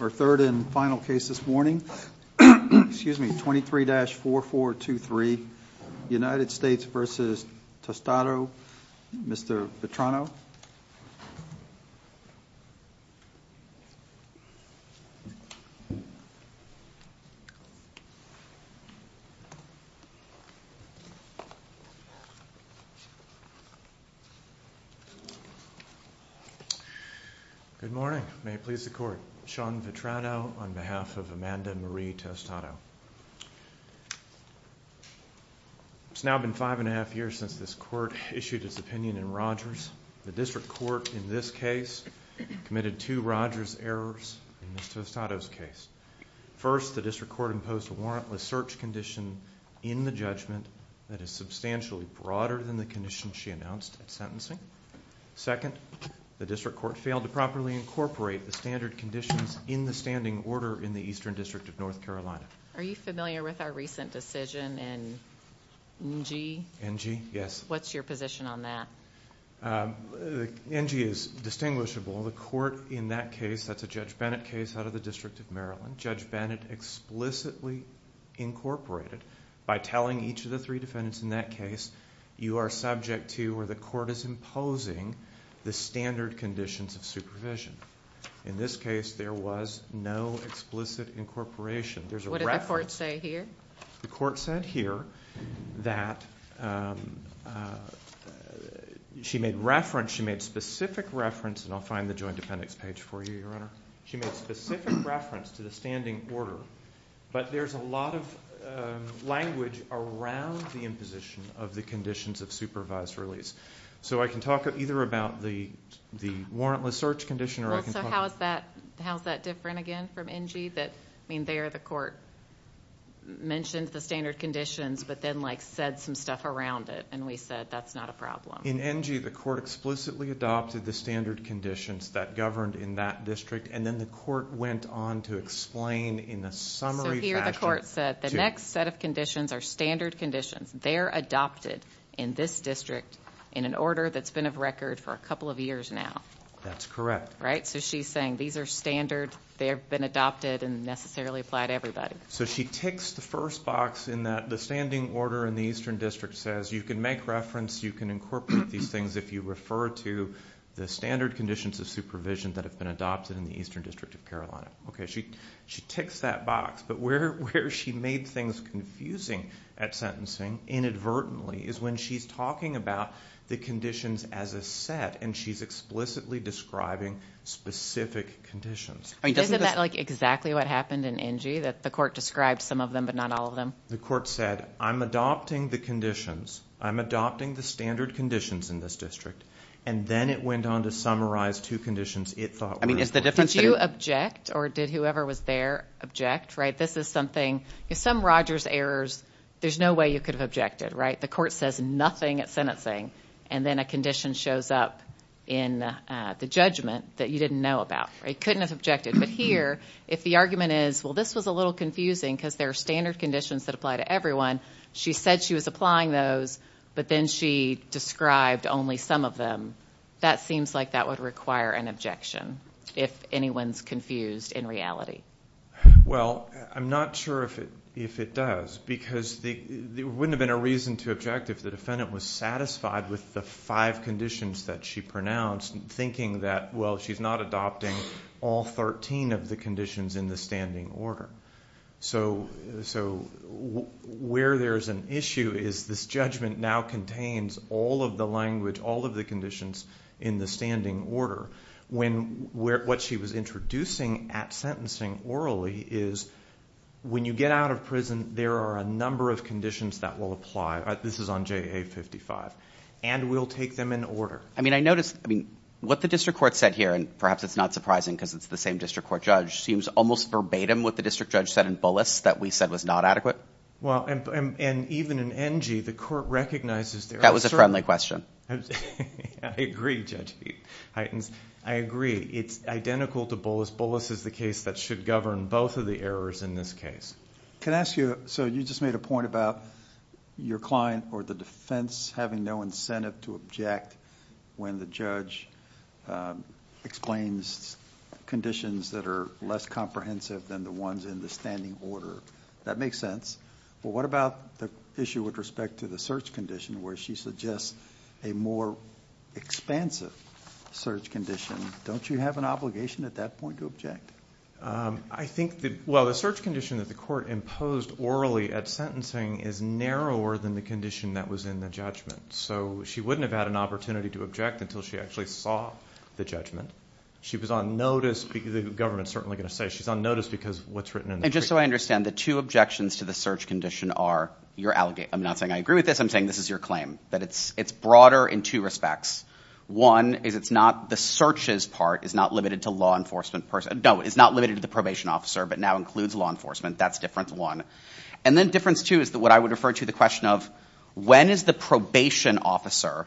Our third and final case this morning, 23-4423, United States v. Tostado, Mr. Vetrano. Good morning. May it please the Court, Sean Vetrano on behalf of Amanda Marie Tostado. It's now been five and a half years since this Court issued its opinion in Rogers. The District Court in this case committed two Rogers errors in Ms. Tostado's case. First, the District Court imposed a warrantless search condition in the judgment that is substantially broader than the condition she announced at sentencing. Second, the District Court failed to properly incorporate the standard conditions in the standing order in the Eastern District of North Carolina. Are you familiar with our recent decision in NG? NG, yes. What's your position on that? NG is distinguishable. The Court in that case, that's a Judge Bennett case out of the District of Maryland. Judge Bennett explicitly incorporated by telling each of the three defendants in that case, you are subject to or the Court is imposing the standard conditions of supervision. In this case, there was no explicit incorporation. What did the Court say here? The Court said here that she made reference, she made specific reference, and I'll find the joint appendix page for you, Your Honor. She made specific reference to the standing order, but there's a lot of language around the imposition of the conditions of supervised release. I can talk either about the warrantless search condition or I can talk about... How is that different again from NG? There the Court mentioned the standard conditions, but then said some stuff around it, and we said that's not a problem. In NG, the Court explicitly adopted the standard conditions that governed in that district, and then the Court went on to explain in a summary fashion... Here the Court said the next set of conditions are standard conditions. They're adopted in this district in an order that's been of record for a couple of years now. That's correct. Right? So she's saying these are standard, they've been adopted, and necessarily apply to everybody. So she ticks the first box in that the standing order in the Eastern District says you can make reference, you can incorporate these things if you refer to the standard conditions of supervision that have been adopted in the Eastern District of Carolina. She ticks that box, but where she made things confusing at sentencing inadvertently is when she's talking about the conditions as a set, and she's explicitly describing specific conditions. Isn't that exactly what happened in NG, that the Court described some of them but not all of them? The Court said, I'm adopting the conditions, I'm adopting the standard conditions in this district, and then it went on to summarize two conditions it thought were important. Did you object, or did whoever was there object? This is something, some Rogers errors, there's no way you could have objected. The Court says nothing at sentencing, and then a condition shows up in the judgment that you didn't know about. You couldn't have objected. But here, if the argument is, well, this was a little confusing because there are standard conditions that apply to everyone. She said she was applying those, but then she described only some of them. That seems like that would require an objection if anyone's confused in reality. Well, I'm not sure if it does, because there wouldn't have been a reason to object if the defendant was satisfied with the five conditions that she pronounced, thinking that, well, she's not adopting all 13 of the conditions in the standing order. So where there's an issue is this judgment now contains all of the language, all of the conditions in the standing order. When what she was introducing at sentencing orally is when you get out of prison, there are a number of conditions that will apply. This is on JA 55. And we'll take them in order. I mean, I noticed, I mean, what the district court said here, and perhaps it's not surprising because it's the same district court judge, seems almost verbatim what the district judge said in Bullis that we said was not adequate. Well, and even in NG, the court recognizes there are certain... That was a friendly question. I agree, Judge Heitens. I agree. It's identical to Bullis. Bullis is the case that should govern both of the errors in this case. Can I ask you, so you just made a point about your client or the defense having no incentive to object when the judge explains conditions that are less comprehensive than the ones in the standing order. That makes sense. But what about the issue with respect to the search condition where she suggests a more expansive search condition? Don't you have an obligation at that point to object? I think that, well, the search condition that the court imposed orally at sentencing is narrower than the condition that was in the judgment. So she wouldn't have had an opportunity to object until she actually saw the judgment. She was on notice because the government is certainly going to say she's on notice because of what's written in the case. And just so I understand, the two objections to the search condition are your allegation. I'm not saying I agree with this. I'm saying this is your claim, that it's broader in two respects. One is it's not the searches part is not limited to law enforcement person. No, it's not limited to the probation officer but now includes law enforcement. That's difference one. And then difference two is what I would refer to the question of when is the probation officer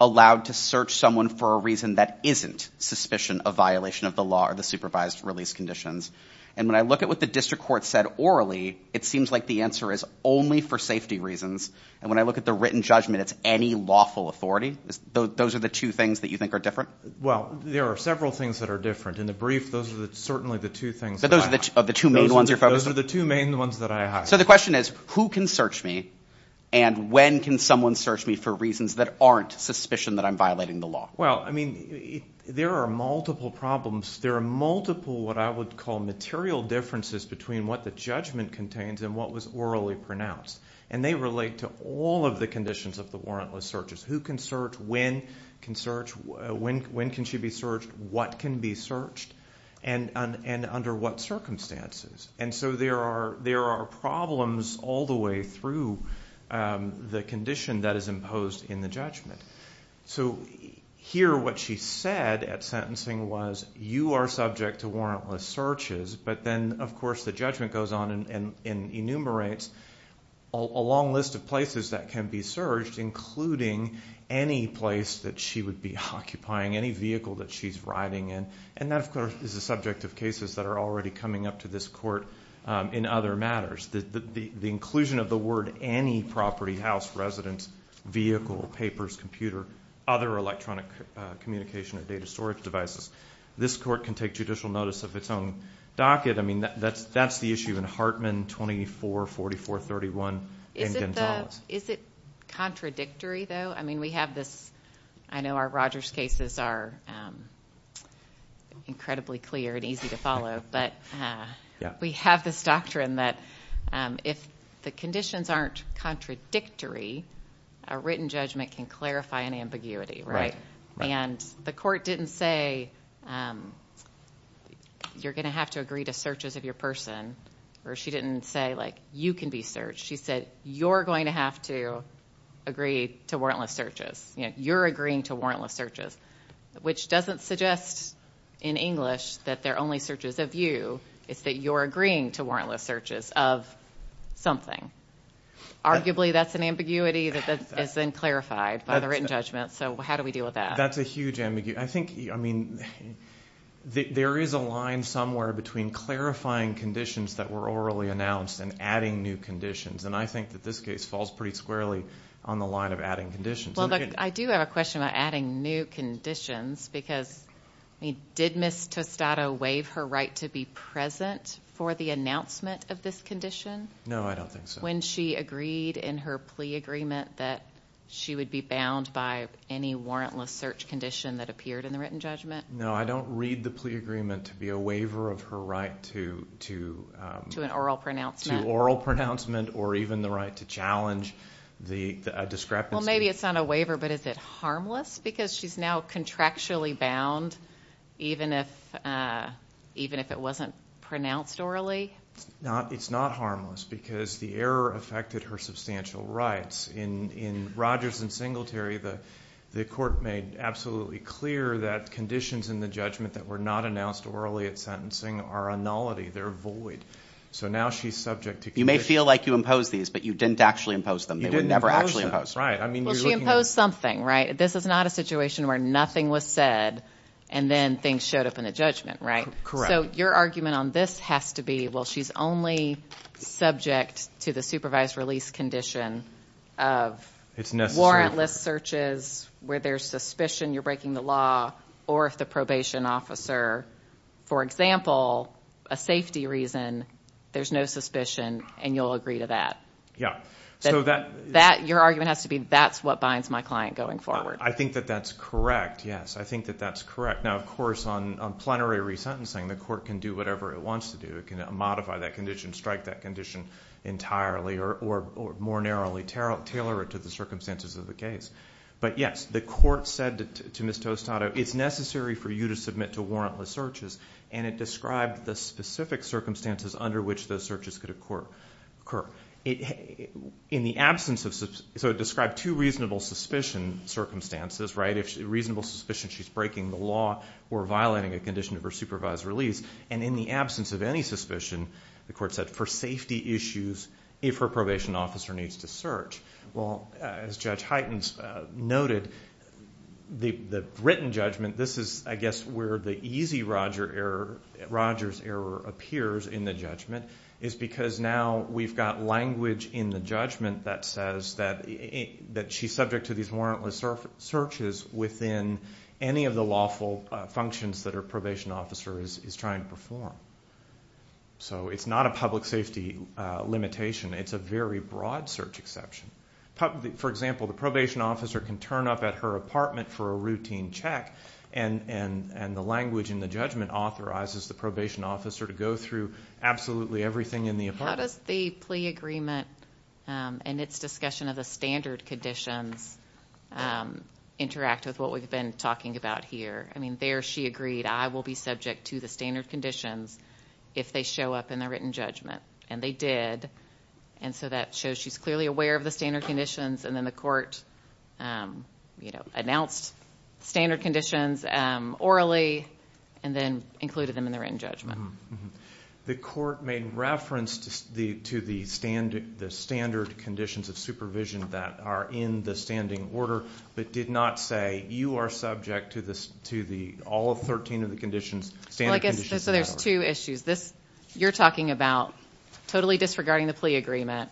allowed to search someone for a reason that isn't suspicion of violation of the law or the supervised release conditions. And when I look at what the district court said orally, it seems like the answer is only for safety reasons. And when I look at the written judgment, it's any lawful authority. Those are the two things that you think are different? Well, there are several things that are different. In the brief, those are certainly the two things that I have. So the question is who can search me and when can someone search me for reasons that aren't suspicion that I'm violating the law? Well, I mean there are multiple problems. There are multiple what I would call material differences between what the judgment contains and what was orally pronounced. And they relate to all of the conditions of the warrantless searches. Who can search? When can search? When can she be searched? What can be searched? And under what circumstances? And so there are problems all the way through the condition that is imposed in the judgment. So here what she said at sentencing was you are subject to warrantless searches. But then, of course, the judgment goes on and enumerates a long list of places that can be searched, including any place that she would be occupying, any vehicle that she's riding in. And that, of course, is the subject of cases that are already coming up to this court in other matters. The inclusion of the word any property, house, residence, vehicle, papers, computer, other electronic communication or data storage devices. This court can take judicial notice of its own docket. I mean that's the issue in Hartman 244431 and Gonzales. Is it contradictory though? I know our Rogers cases are incredibly clear and easy to follow, but we have this doctrine that if the conditions aren't contradictory, a written judgment can clarify an ambiguity, right? And the court didn't say you're going to have to agree to searches of your person, or she didn't say, like, you can be searched. She said you're going to have to agree to warrantless searches. You're agreeing to warrantless searches, which doesn't suggest in English that they're only searches of you. It's that you're agreeing to warrantless searches of something. Arguably that's an ambiguity that is then clarified by the written judgment. So how do we deal with that? That's a huge ambiguity. I think, I mean, there is a line somewhere between clarifying conditions that were orally announced and adding new conditions. And I think that this case falls pretty squarely on the line of adding conditions. Well, look, I do have a question about adding new conditions because did Ms. Tostado waive her right to be present for the announcement of this condition? No, I don't think so. When she agreed in her plea agreement that she would be bound by any warrantless search condition that appeared in the written judgment? No, I don't read the plea agreement to be a waiver of her right to… To an oral pronouncement. To oral pronouncement or even the right to challenge the discrepancy. Well, maybe it's not a waiver, but is it harmless because she's now contractually bound even if it wasn't pronounced orally? It's not harmless because the error affected her substantial rights. In Rogers and Singletary, the court made absolutely clear that conditions in the judgment that were not announced orally at sentencing are a nullity. They're void. So now she's subject to conviction. You may feel like you imposed these, but you didn't actually impose them. You didn't impose them. They were never actually imposed. Well, she imposed something, right? This is not a situation where nothing was said and then things showed up in the judgment, right? Correct. So your argument on this has to be, well, she's only subject to the supervised release condition of… It's necessary. …warrantless searches where there's suspicion you're breaking the law or if the probation officer, for example, a safety reason, there's no suspicion and you'll agree to that. Yeah. Your argument has to be that's what binds my client going forward. I think that that's correct, yes. I think that that's correct. Now, of course, on plenary resentencing, the court can do whatever it wants to do. It can modify that condition, strike that condition entirely or more narrowly tailor it to the circumstances of the case. But, yes, the court said to Ms. Tostado, it's necessary for you to submit to warrantless searches, and it described the specific circumstances under which those searches could occur. So it described two reasonable suspicion circumstances, right? Reasonable suspicion she's breaking the law or violating a condition of her supervised release, and in the absence of any suspicion, the court said for safety issues, if her probation officer needs to search. Well, as Judge Heitens noted, the written judgment, this is, I guess, where the easy Rogers error appears in the judgment is because now we've got language in the judgment that says that she's subject to these warrantless searches within any of the lawful functions that her probation officer is trying to perform. So it's not a public safety limitation. It's a very broad search exception. For example, the probation officer can turn up at her apartment for a routine check, and the language in the judgment authorizes the probation officer to go through absolutely everything in the apartment. How does the plea agreement and its discussion of the standard conditions interact with what we've been talking about here? I mean, there she agreed, I will be subject to the standard conditions if they show up in the written judgment, and they did, and so that shows she's clearly aware of the standard conditions, and then the court announced standard conditions orally and then included them in the written judgment. The court made reference to the standard conditions of supervision that are in the standing order but did not say you are subject to all 13 of the standard conditions. So there's two issues. You're talking about totally disregarding the plea agreement.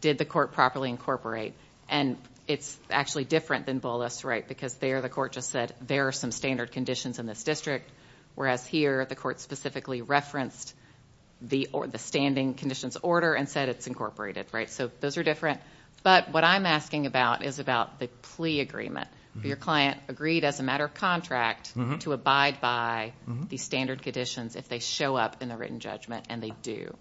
Did the court properly incorporate? And it's actually different than Bullis, right, because there the court just said there are some standard conditions in this district, whereas here the court specifically referenced the standing conditions order and said it's incorporated, right? So those are different. But what I'm asking about is about the plea agreement. Your client agreed as a matter of contract to abide by the standard conditions if they show up in the written judgment, and they do.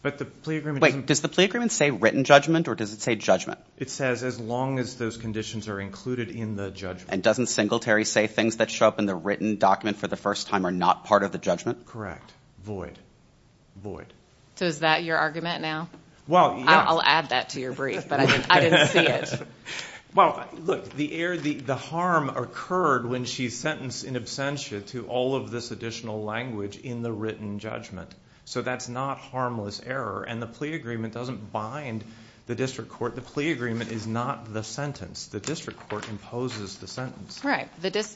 But the plea agreement doesn't… Does the plea agreement say written judgment, or does it say judgment? It says as long as those conditions are included in the judgment. And doesn't Singletary say things that show up in the written document for the first time are not part of the judgment? Correct. Void. So is that your argument now? Well, yes. I'll add that to your brief, but I didn't see it. Well, look, the harm occurred when she's sentenced in absentia to all of this additional language in the written judgment. So that's not harmless error, and the plea agreement doesn't bind the district court. The plea agreement is not the sentence. The district court imposes the sentence. Right.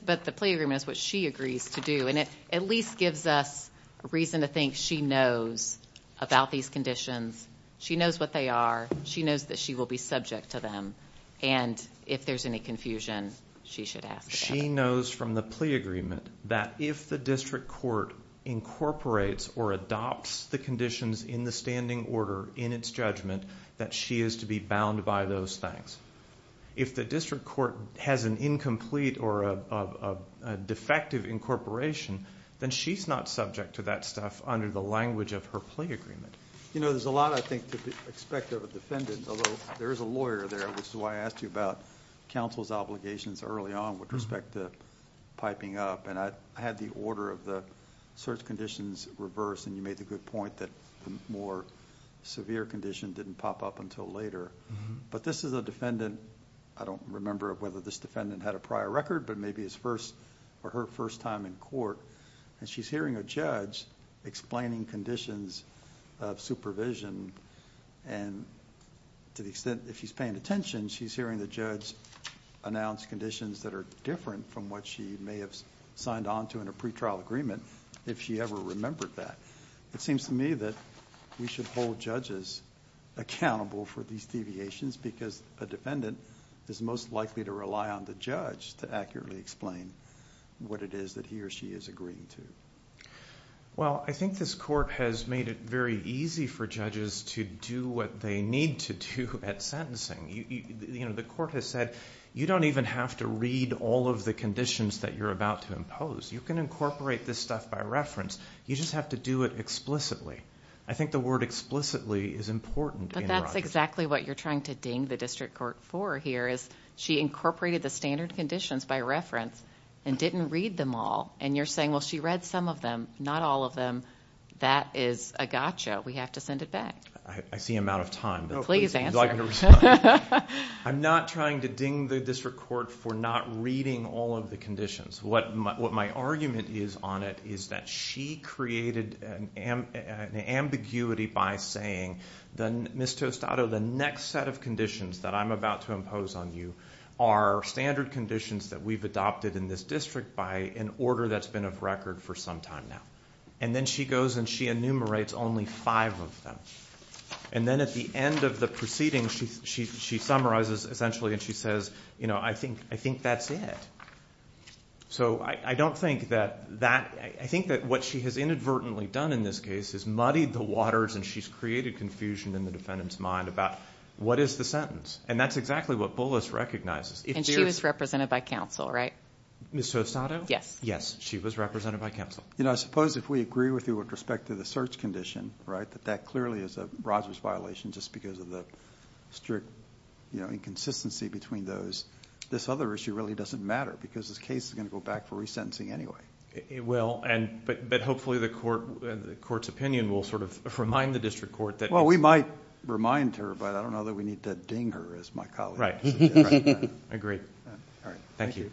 But the plea agreement is what she agrees to do, and it at least gives us reason to think she knows about these conditions. She knows what they are. She knows that she will be subject to them. And if there's any confusion, she should ask. She knows from the plea agreement that if the district court incorporates or adopts the conditions in the standing order in its judgment, that she is to be bound by those things. If the district court has an incomplete or a defective incorporation, then she's not subject to that stuff under the language of her plea agreement. You know, there's a lot, I think, to expect of a defendant, although there is a lawyer there, which is why I asked you about counsel's obligations early on with respect to piping up. And I had the order of the search conditions reversed, and you made the good point that the more severe condition didn't pop up until later. But this is a defendant... I don't remember whether this defendant had a prior record, but maybe his first or her first time in court. And she's hearing a judge explaining conditions of supervision, and to the extent that she's paying attention, she's hearing the judge announce conditions that are different from what she may have signed on to in a pretrial agreement, if she ever remembered that. It seems to me that we should hold judges accountable for these deviations because a defendant is most likely to rely on the judge to accurately explain what it is that he or she is agreeing to. Well, I think this court has made it very easy for judges to do what they need to do at sentencing. You know, the court has said, you don't even have to read all of the conditions that you're about to impose. You can incorporate this stuff by reference. You just have to do it explicitly. I think the word explicitly is important in a run. But that's exactly what you're trying to ding the district court for here, is she incorporated the standard conditions by reference and didn't read them all. And you're saying, well, she read some of them, not all of them. That is a gotcha. We have to send it back. I see I'm out of time. Please answer. I'm not trying to ding the district court for not reading all of the conditions. What my argument is on it is that she created an ambiguity by saying, Ms. Tostado, the next set of conditions that I'm about to impose on you are standard conditions that we've adopted in this district by an order that's been of record for some time now. And then she goes and she enumerates only five of them. And then at the end of the proceeding, she summarizes, essentially, and she says, I think that's it. So I think that what she has inadvertently done in this case is muddied the waters and she's created confusion in the defendant's mind about what is the sentence. And that's exactly what Bullis recognizes. And she was represented by counsel, right? Ms. Tostado? Yes. Yes, she was represented by counsel. I suppose if we agree with you with respect to the search condition, that that clearly is a Rogers violation just because of the strict inconsistency between those, this other issue really doesn't matter because this case is going to go back for resentencing anyway. It will, but hopefully the court's opinion will sort of remind the district court that Well, we might remind her, but I don't know that we need to ding her as my colleague. Agreed. All right. Thank you. All right.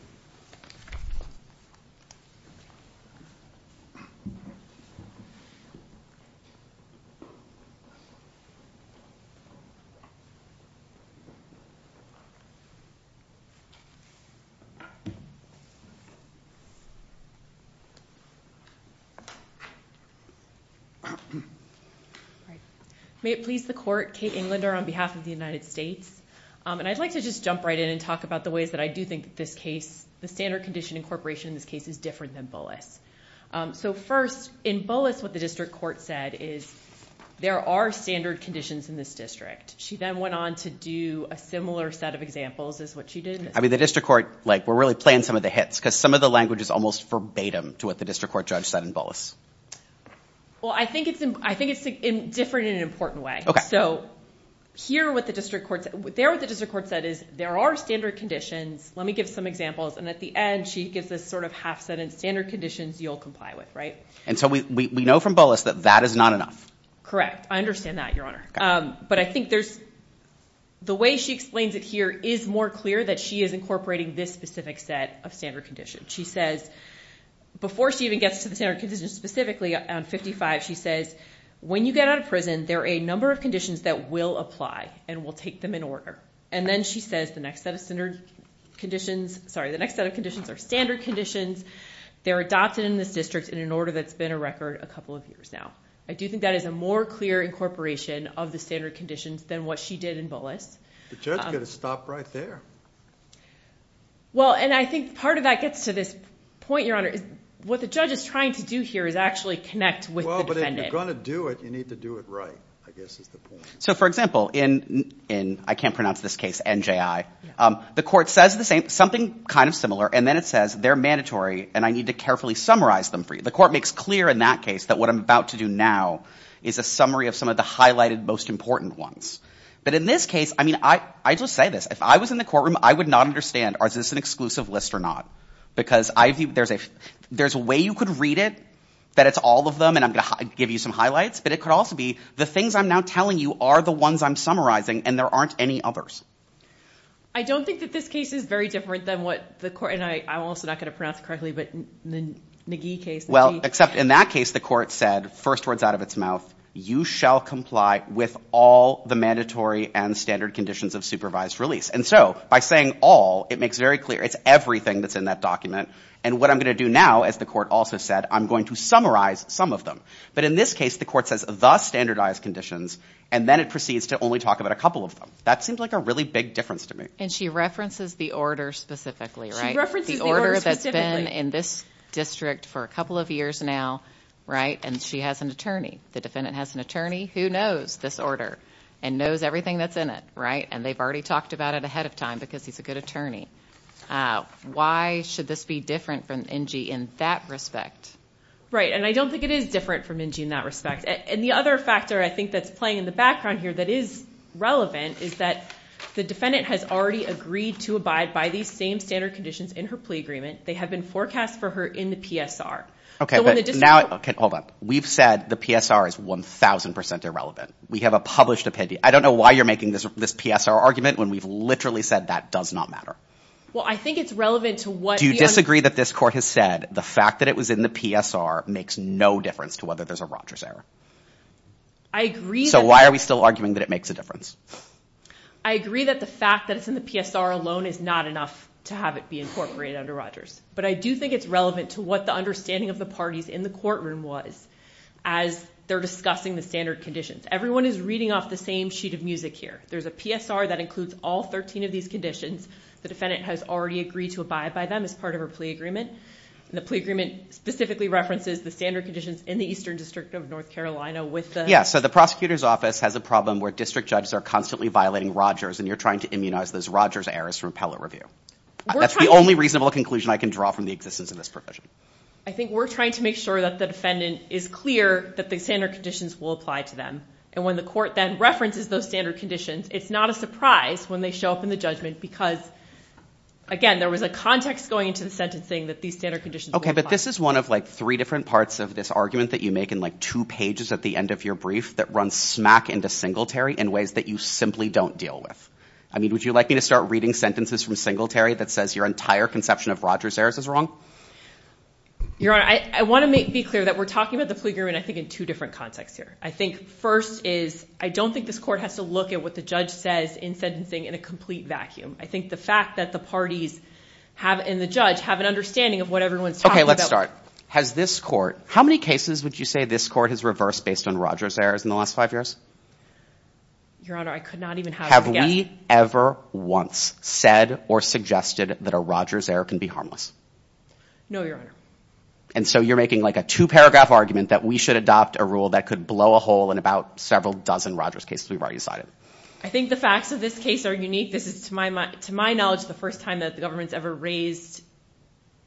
May it please the court, Kate Englander on behalf of the United States. And I'd like to just jump right in and talk about the ways that I do think that this case, the standard condition incorporation in this case is different than Bullis. So first, in Bullis, what the district court said is there are standard conditions in this district. She then went on to do a similar set of examples is what she did. I mean, the district court, like we're really playing some of the hits because some of the language is almost verbatim to what the district court judge said in Bullis. Well, I think it's, I think it's different in an important way. So here what the district court, there what the district court said is there are standard conditions. Let me give some examples. And at the end, she gives this sort of half set in standard conditions you'll comply with. Right. And so we know from Bullis that that is not enough. Correct. I understand that, Your Honor. But I think there's, the way she explains it here is more clear that she is incorporating this specific set of standard conditions. She says, before she even gets to the standard conditions specifically on 55, she says when you get out of prison, there are a number of conditions that will apply and will take them in order. And then she says the next set of standard conditions, sorry, the next set of conditions are standard conditions. They're adopted in this district in an order that's been a record a couple of years now. I do think that is a more clear incorporation of the standard conditions than what she did in Bullis. The judge could have stopped right there. Well, and I think part of that gets to this point, Your Honor. What the judge is trying to do here is actually connect with the defendant. Well, but if you're going to do it, you need to do it right, I guess is the point. So, for example, in, I can't pronounce this case, NJI, the court says the same, something kind of similar, and then it says they're mandatory and I need to carefully summarize them for you. The court makes clear in that case that what I'm about to do now is a summary of some of the highlighted most important ones. But in this case, I mean, I just say this. If I was in the courtroom, I would not understand, is this an exclusive list or not? Because there's a way you could read it, that it's all of them and I'm going to give you some highlights, but it could also be the things I'm now telling you are the ones I'm summarizing and there aren't any others. I don't think that this case is very different than what the court, and I'm also not going to pronounce it correctly, but the NJI case. Well, except in that case, the court said, first words out of its mouth, you shall comply with all the mandatory and standard conditions of supervised release. And so, by saying all, it makes very clear, it's everything that's in that document. And what I'm going to do now, as the court also said, I'm going to summarize some of them. But in this case, the court says the standardized conditions and then it proceeds to only talk about a couple of them. That seems like a really big difference to me. And she references the order specifically, right? She references the order specifically. The order that's been in this district for a couple of years now, right? And she has an attorney. The defendant has an attorney who knows this order and knows everything that's in it, right? And they've already talked about it ahead of time because he's a good attorney. Why should this be different from NJI in that respect? Right, and I don't think it is different from NJI in that respect. And the other factor, I think, that's playing in the background here that is relevant is that the defendant has already agreed to abide by these same standard conditions in her plea agreement. They have been forecast for her in the PSR. Okay, but now, okay, hold on. We've said the PSR is 1,000% irrelevant. We have a published opinion. I don't know why you're making this PSR argument when we've literally said that does not matter. Well, I think it's relevant to what the… Do you disagree that this court has said the fact that it was in the PSR makes no difference to whether there's a Rogers error? I agree that… So why are we still arguing that it makes a difference? I agree that the fact that it's in the PSR alone is not enough to have it be incorporated under Rogers. But I do think it's relevant to what the understanding of the parties in the courtroom was as they're discussing the standard conditions. Everyone is reading off the same sheet of music here. There's a PSR that includes all 13 of these conditions. The defendant has already agreed to abide by them as part of her plea agreement. And the plea agreement specifically references the standard conditions in the Eastern District of North Carolina with the… Yeah, so the prosecutor's office has a problem where district judges are constantly violating Rogers and you're trying to immunize those Rogers errors from appellate review. That's the only reasonable conclusion I can draw from the existence of this provision. I think we're trying to make sure that the defendant is clear that the standard conditions will apply to them. And when the court then references those standard conditions, it's not a surprise when they show up in the judgment because, again, there was a context going into the sentencing that these standard conditions will apply. Yeah, but this is one of, like, three different parts of this argument that you make in, like, two pages at the end of your brief that runs smack into Singletary in ways that you simply don't deal with. I mean, would you like me to start reading sentences from Singletary that says your entire conception of Rogers errors is wrong? Your Honor, I want to be clear that we're talking about the plea agreement, I think, in two different contexts here. I think first is I don't think this court has to look at what the judge says in sentencing in a complete vacuum. I think the fact that the parties have in the judge have an understanding of what everyone's talking about. Okay, let's start. Has this court, how many cases would you say this court has reversed based on Rogers errors in the last five years? Your Honor, I could not even have a guess. Have we ever once said or suggested that a Rogers error can be harmless? No, Your Honor. And so you're making, like, a two-paragraph argument that we should adopt a rule that could blow a hole in about several dozen Rogers cases we've already cited. I think the facts of this case are unique. This is, to my knowledge, the first time that the government's ever raised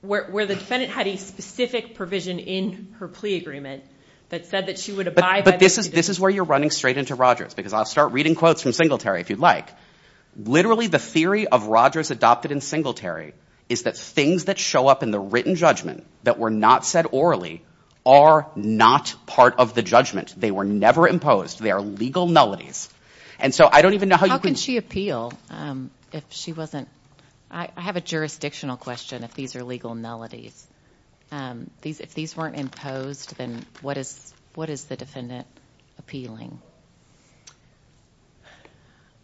where the defendant had a specific provision in her plea agreement that said that she would abide by the plea agreement. But this is where you're running straight into Rogers, because I'll start reading quotes from Singletary if you'd like. Literally, the theory of Rogers adopted in Singletary is that things that show up in the written judgment that were not said orally are not part of the judgment. They were never imposed. They are legal nullities. And so I don't even know how you can... How can she appeal if she wasn't... I have a jurisdictional question if these are legal nullities. If these weren't imposed, then what is the defendant appealing?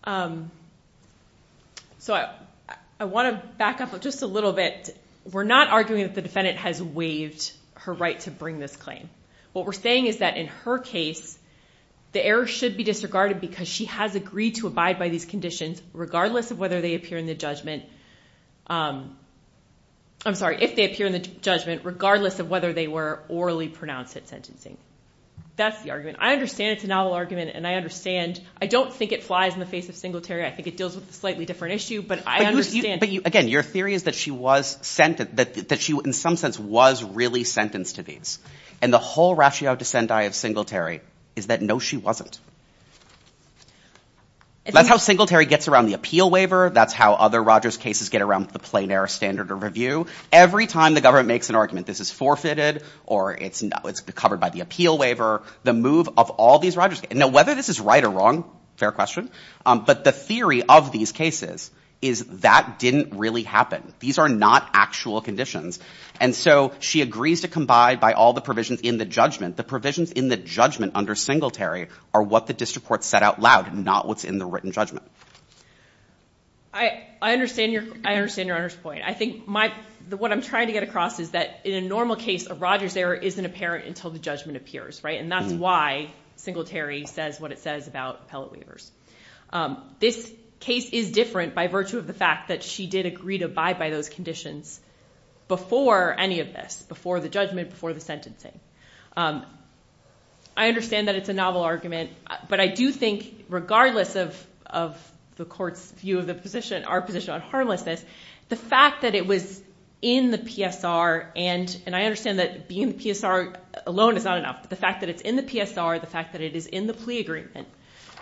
So I want to back up just a little bit. We're not arguing that the defendant has waived her right to bring this claim. What we're saying is that in her case, the error should be disregarded because she has agreed to abide by these conditions, regardless of whether they appear in the judgment... I'm sorry, if they appear in the judgment, regardless of whether they were orally pronounced at sentencing. That's the argument. I understand it's a novel argument, and I understand... I don't think it flies in the face of Singletary. I think it deals with a slightly different issue, but I understand... Again, your theory is that she was sent... That she, in some sense, was really sentenced to these. And the whole ratio dissent I have Singletary is that no, she wasn't. That's how Singletary gets around the appeal waiver. That's how other Rogers cases get around the plain error standard of review. Every time the government makes an argument, this is forfeited or it's covered by the appeal waiver, the move of all these Rogers... Now, whether this is right or wrong, fair question, but the theory of these cases is that didn't really happen. These are not actual conditions. And so she agrees to abide by all the provisions in the judgment. The provisions in the judgment under Singletary are what the diss report set out loud, not what's in the written judgment. I understand your point. I think what I'm trying to get across is that in a normal case, a Rogers error isn't apparent until the judgment appears. And that's why Singletary says what it says about appellate waivers. This case is different by virtue of the fact that she did agree to abide by those conditions before any of this, before the judgment, before the sentencing. I understand that it's a novel argument, but I do think, regardless of the court's view of the position, our position on harmlessness, the fact that it was in the PSR, and I understand that being in the PSR alone is not enough, but the fact that it's in the PSR, the fact that it is in the plea agreement,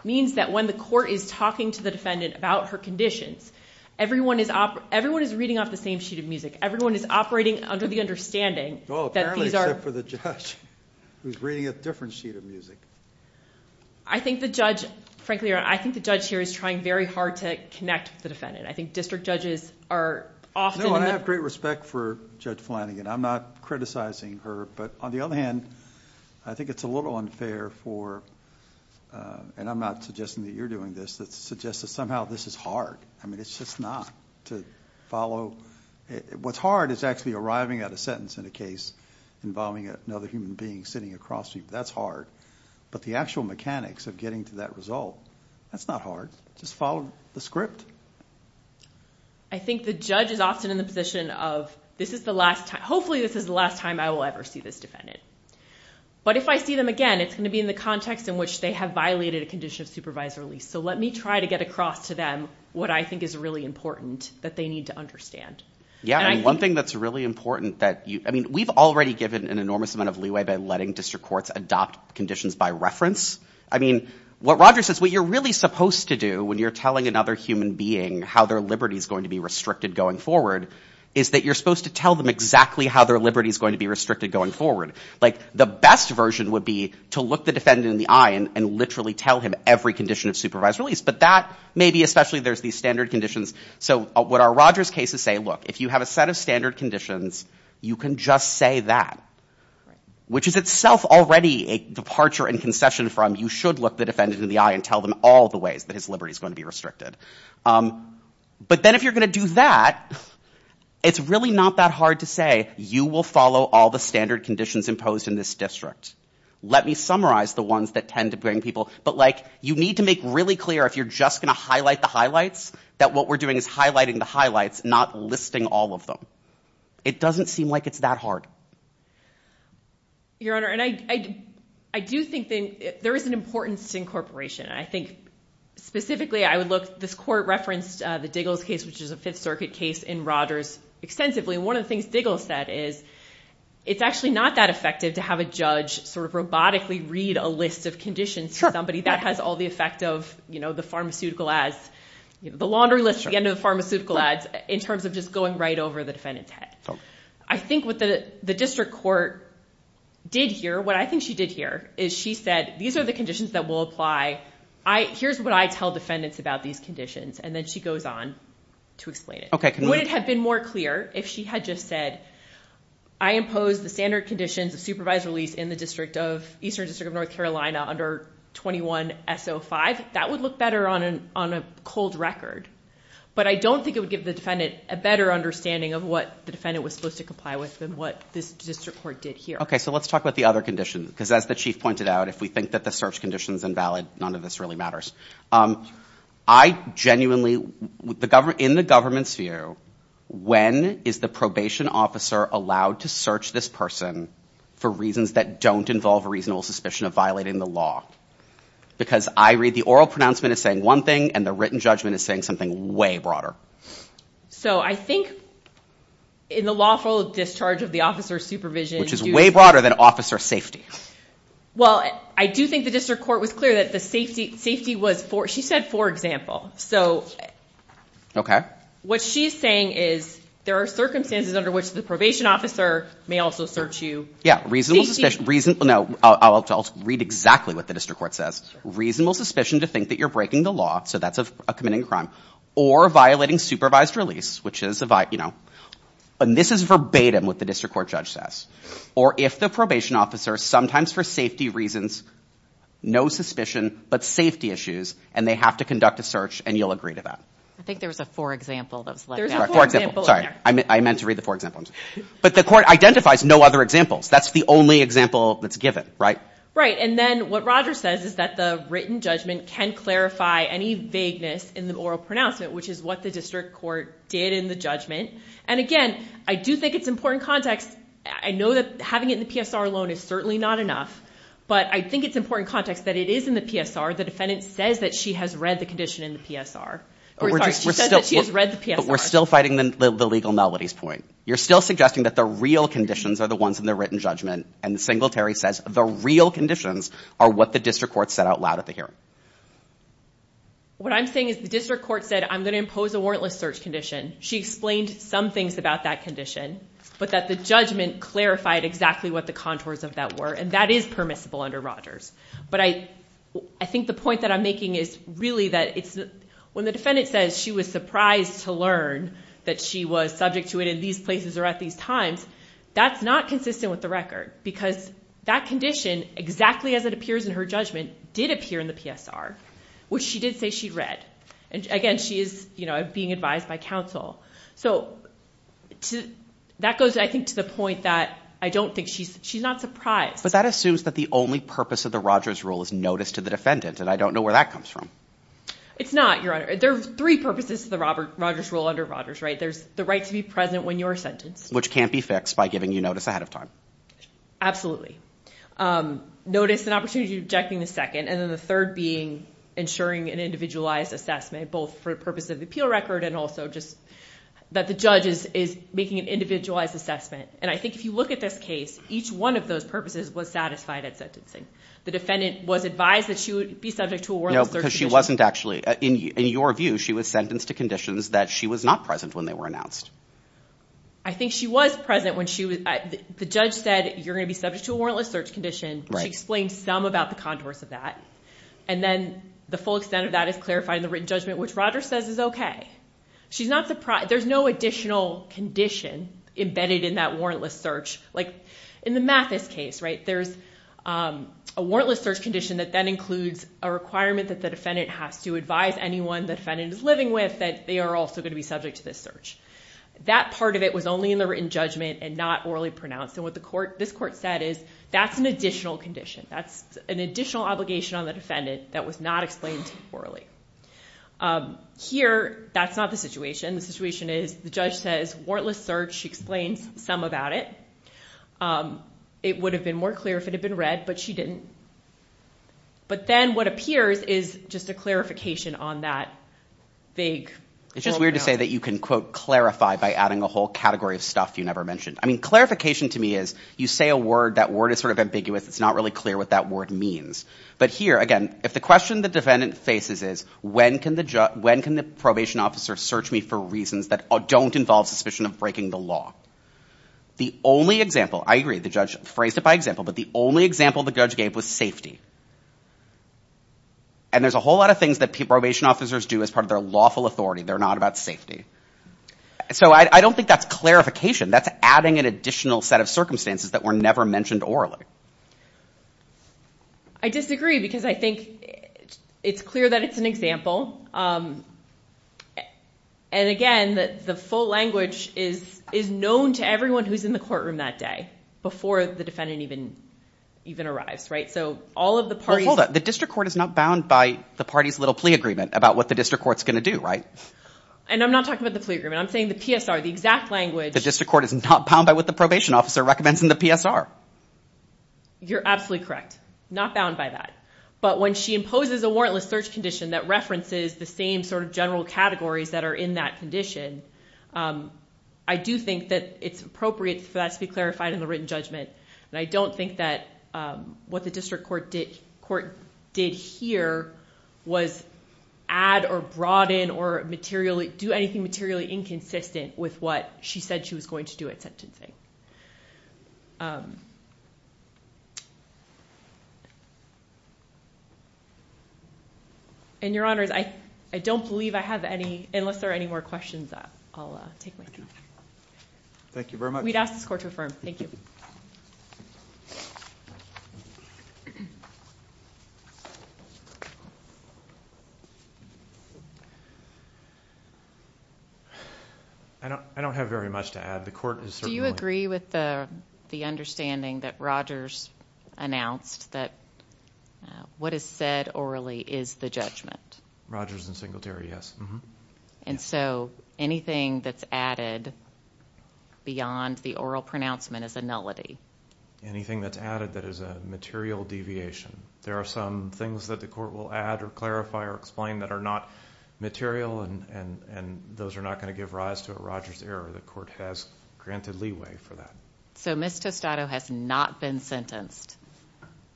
means that when the court is talking to the defendant about her conditions, everyone is reading off the same sheet of music. Everyone is operating under the understanding that these are... Well, apparently, except for the judge, who's reading a different sheet of music. I think the judge, frankly, I think the judge here is trying very hard to connect with the defendant. I think district judges are often... No, I have great respect for Judge Flanagan. I'm not criticizing her, but on the other hand, I think it's a little unfair for, and I'm not suggesting that you're doing this, that suggests that somehow this is hard. I mean, it's just not, to follow... What's hard is actually arriving at a sentence in a case involving another human being sitting across from you. That's hard, but the actual mechanics of getting to that result, that's not hard. Just follow the script. I think the judge is often in the position of, this is the last time, hopefully this is the last time I will ever see this defendant. But if I see them again, it's going to be in the context in which they have violated a condition of supervisory release. So let me try to get across to them what I think is really important that they need to understand. Yeah, and one thing that's really important that you... I mean, we've already given an enormous amount of leeway by letting district courts adopt conditions by reference. I mean, what Roger says, what you're really supposed to do when you're telling another human being how their liberty is going to be restricted going forward, is that you're supposed to tell them exactly how their liberty is going to be restricted going forward. Like, the best version would be to look the defendant in the eye and literally tell him every condition of supervisory release. But that, maybe especially there's these standard conditions. So what our Rogers cases say, look, if you have a set of standard conditions, you can just say that. Which is itself already a departure and concession from, you should look the defendant in the eye and tell them all the ways that his liberty is going to be restricted. But then if you're going to do that, it's really not that hard to say, you will follow all the standard conditions imposed in this district. Let me summarize the ones that tend to bring people... But like, you need to make really clear, if you're just going to highlight the highlights, that what we're doing is highlighting the highlights, not listing all of them. It doesn't seem like it's that hard. Your Honor, and I do think that there is an importance to incorporation. I think, specifically, I would look... This court referenced the Diggles case, which is a Fifth Circuit case, in Rogers extensively. One of the things Diggles said is, it's actually not that effective to have a judge sort of robotically read a list of conditions to somebody. That has all the effect of, you know, the pharmaceutical ads, the laundry list at the end of the pharmaceutical ads, in terms of just going right over the defendant's head. I think what the district court did here, what I think she did here, is she said, these are the conditions that will apply. Here's what I tell defendants about these conditions. And then she goes on to explain it. Would it have been more clear if she had just said, I impose the standard conditions of supervised release in the Eastern District of North Carolina under 21-S05? That would look better on a cold record. But I don't think it would give the defendant a better understanding of what the defendant was supposed to comply with than what this district court did here. Okay, so let's talk about the other conditions. Because as the Chief pointed out, if we think that the search condition is invalid, none of this really matters. I genuinely... In the government's view, when is the probation officer allowed to search this person for reasons that don't involve a reasonable suspicion of violating the law? Because I read the oral pronouncement as saying one thing, and the written judgment is saying something way broader. So I think in the lawful discharge of the officer's supervision... Which is way broader than officer safety. Well, I do think the district court was clear that the safety was... She said, for example. Okay. What she's saying is there are circumstances under which the probation officer may also search you. Yeah, reasonable suspicion... I'll read exactly what the district court says. Reasonable suspicion to think that you're breaking the law, so that's a committing a crime, or violating supervised release, which is a... And this is verbatim what the district court judge says. Or if the probation officer, sometimes for safety reasons, no suspicion, but safety issues, and they have to conduct a search, and you'll agree to that. I think there was a for example that was left out. There's a for example in there. Sorry, I meant to read the for example. But the court identifies no other examples. That's the only example that's given, right? Right, and then what Roger says is that the written judgment can clarify any vagueness in the oral pronouncement, which is what the district court did in the judgment. And again, I do think it's important context. I know that having it in the PSR alone is certainly not enough, but I think it's important context that it is in the PSR. The defendant says that she has read the condition in the PSR. We're just... She says that she has read the PSR. But we're still fighting the legal melodies point. You're still suggesting that the real conditions are the ones in the written judgment, and the singletary says the real conditions are what the district court said out loud at the hearing. What I'm saying is the district court said, I'm going to impose a warrantless search condition. She explained some things about that condition, but that the judgment clarified exactly what the contours of that were, and that is permissible under Rogers. But I think the point that I'm making is really that it's... When the defendant says she was surprised to learn that she was subject to it in these places or at these times, that's not consistent with the record, because that condition, exactly as it appears in her judgment, did appear in the PSR, which she did say she'd read. Again, she is being advised by counsel. So that goes, I think, to the point that I don't think she's... She's not surprised. But that assumes that the only purpose of the Rogers rule is notice to the defendant, and I don't know where that comes from. It's not, Your Honor. There are three purposes to the Rogers rule under Rogers, right? There's the right to be present when you're sentenced... which can't be fixed by giving you notice ahead of time. Notice and opportunity to object in the second, and then the third being ensuring an individualized assessment, both for purposes of the appeal record and also just... that the judge is making an individualized assessment. And I think if you look at this case, each one of those purposes was satisfied at sentencing. The defendant was advised that she would be subject to a warrantless third condition. No, because she wasn't actually... In your view, she was sentenced to conditions that she was not present when they were announced. I think she was present when she was... The judge said, you're going to be subject to a warrantless search condition. She explained some about the contours of that. And then, the full extent of that is clarified in the written judgment, which Rogers says is okay. She's not surprised. There's no additional condition embedded in that warrantless search. Like, in the Mathis case, right, there's a warrantless search condition that then includes a requirement that the defendant has to advise anyone the defendant is living with that they are also going to be subject to this search. That part of it was only in the written judgment and not orally pronounced. And what this court said is, that's an additional condition. That's an additional obligation on the defendant that was not explained orally. Here, that's not the situation. The situation is, the judge says, warrantless search. She explains some about it. It would have been more clear if it had been read, but she didn't. But then, what appears is just a clarification on that vague... by adding a whole category of stuff you never mentioned. I mean, clarification to me is, you say a word, that word is sort of ambiguous. It's not really clear what that word means. But here, again, if the question the defendant faces is, when can the probation officer search me for reasons that don't involve suspicion of breaking the law? The only example, I agree, the judge phrased it by example, but the only example the judge gave was safety. And there's a whole lot of things that probation officers do as part of their lawful authority. They're not about safety. So, I don't think that's clarification. That's adding an additional set of circumstances that were never mentioned orally. I disagree, because I think it's clear that it's an example. And again, the full language is known to everyone who's in the courtroom that day, before the defendant even arrives, right? So, all of the parties... Well, hold up. The district court is not bound by the party's little plea agreement about what the district court's going to do, right? And I'm not talking about the plea agreement. I'm saying the PSR, the exact language... The district court is not bound by what the probation officer recommends in the PSR. You're absolutely correct. Not bound by that. But when she imposes a warrantless search condition that references the same sort of general categories that are in that condition, I do think that it's appropriate for that to be clarified in the written judgment. And I don't think that what the district court did here was add or broaden or do anything materially inconsistent with what she said she was going to do at sentencing. And, Your Honors, I don't believe I have any... Unless there are any more questions, I'll take my time. Thank you very much. We'd ask this court to affirm. Thank you. I don't have very much to add. The court is certainly... Do you agree with the understanding that Rogers announced that what is said orally is the judgment? Rogers and Singletary, yes. And so anything that's added beyond the oral pronouncement is a nullity? Anything that's added that is a material deviation. There are some things that the court will add or clarify or explain that are not material, and those are not going to give rise to a Rogers error. The court has granted leeway for that. So Ms. Tostado has not been sentenced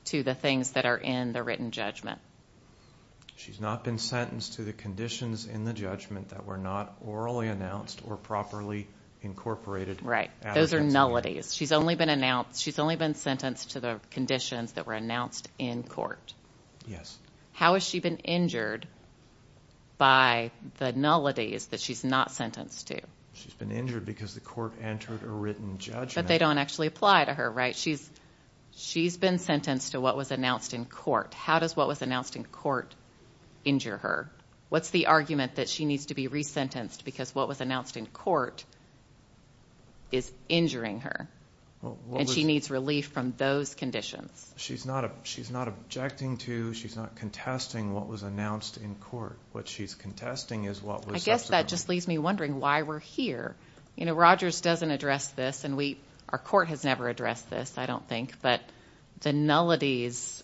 to the things that are in the written judgment. She's not been sentenced to the conditions in the judgment that were not orally announced or properly incorporated. Right. Those are nullities. She's only been sentenced to the conditions that were announced in court. Yes. How has she been injured by the nullities that she's not sentenced to? She's been injured because the court entered a written judgment. But they don't actually apply to her, right? She's been sentenced to what was announced in court. How does what was announced in court injure her? What's the argument that she needs to be resentenced because what was announced in court is injuring her? And she needs relief from those conditions. She's not objecting to, she's not contesting what was announced in court. What she's contesting is what was said. I guess that just leaves me wondering why we're here. You know, Rogers doesn't address this, and our court has never addressed this, I don't think. But the nullities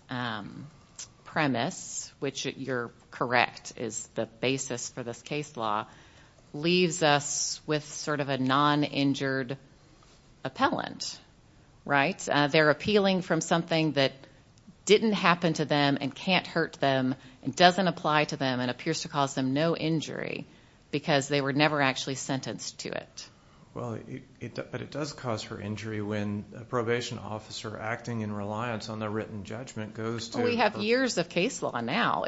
premise, which you're correct is the basis for this case law, leaves us with sort of a non-injured appellant, right? They're appealing from something that didn't happen to them and can't hurt them and doesn't apply to them and appears to cause them no injury because they were never actually sentenced to it. Well, but it does cause her injury when a probation officer acting in reliance on their written judgment goes to— We have years of case law now.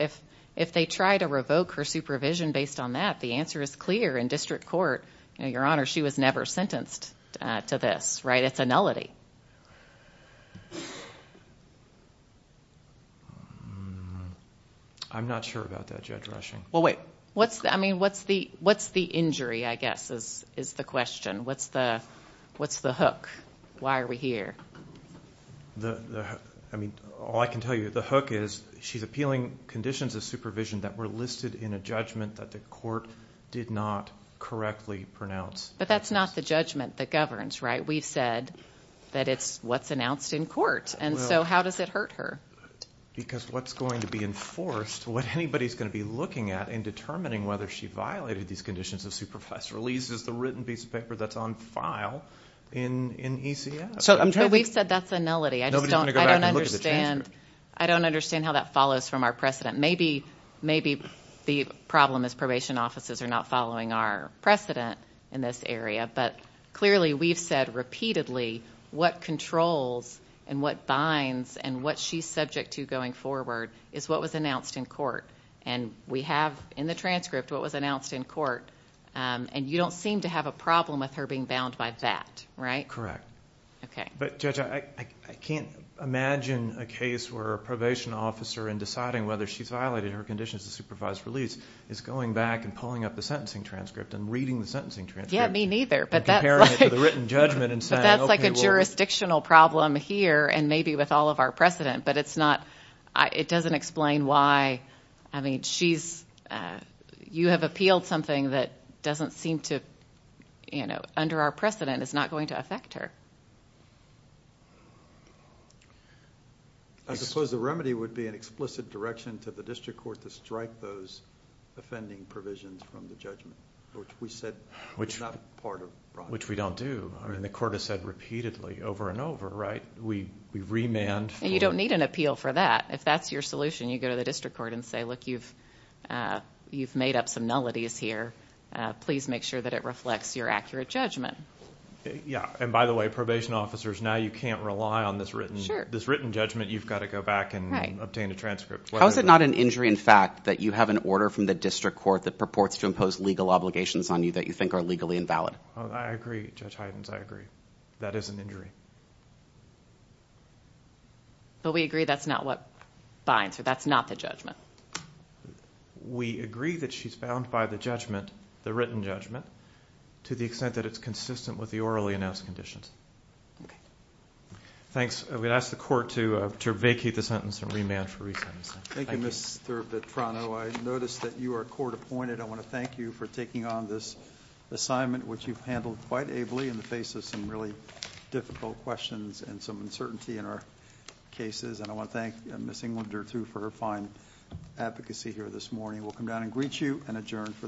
If they try to revoke her supervision based on that, the answer is clear in district court. Your Honor, she was never sentenced to this, right? It's a nullity. I'm not sure about that, Judge Rushing. Well, wait. I mean, what's the injury, I guess, is the question. What's the hook? Why are we here? I mean, all I can tell you, the hook is she's appealing conditions of supervision that were listed in a judgment that the court did not correctly pronounce. But that's not the judgment that governs, right? We've said that it's what's announced in court. And so how does it hurt her? Because what's going to be enforced, what anybody's going to be looking at in determining whether she violated these conditions of supervision, at least is the written piece of paper that's on file in ECF. But we've said that's a nullity. Nobody's going to go back and look at the transcript. I don't understand how that follows from our precedent. Maybe the problem is probation offices are not following our precedent in this area. But clearly we've said repeatedly what controls and what binds and what she's subject to going forward is what was announced in court. And we have in the transcript what was announced in court. And you don't seem to have a problem with her being bound by that, right? Correct. Okay. But, Judge, I can't imagine a case where a probation officer, in deciding whether she's violated her conditions of supervised release, is going back and pulling up the sentencing transcript and reading the sentencing transcript. Yeah, me neither. And comparing it to the written judgment and saying, okay, well. But that's like a jurisdictional problem here and maybe with all of our precedent. But it's not ñ it doesn't explain why, I mean, she's ñ you have appealed something that doesn't seem to, you know, under our precedent is not going to affect her. I suppose the remedy would be an explicit direction to the district court to strike those offending provisions from the judgment, which we said is not part of the process. Which we don't do. I mean, the court has said repeatedly over and over, right, we remand. You don't need an appeal for that. If that's your solution, you go to the district court and say, look, you've made up some nullities here. Please make sure that it reflects your accurate judgment. Yeah. And by the way, probation officers, now you can't rely on this written judgment. You've got to go back and obtain a transcript. How is it not an injury in fact that you have an order from the district court that purports to impose legal obligations on you that you think are legally invalid? I agree. Judge Hydens, I agree. That is an injury. But we agree that's not what binds her. That's not the judgment. We agree that she's bound by the judgment, the written judgment, to the extent that it's consistent with the orally announced conditions. Okay. Thanks. We'd ask the court to vacate the sentence and remand for resentencing. Thank you. Thank you, Mr. Vitrano. I noticed that you are court appointed. I want to thank you for taking on this assignment, which you've handled quite ably in the face of some really difficult questions and some uncertainty in our cases. And I want to thank Ms. Englander, too, for her fine advocacy here this morning. We'll come down and greet you and adjourn for the day.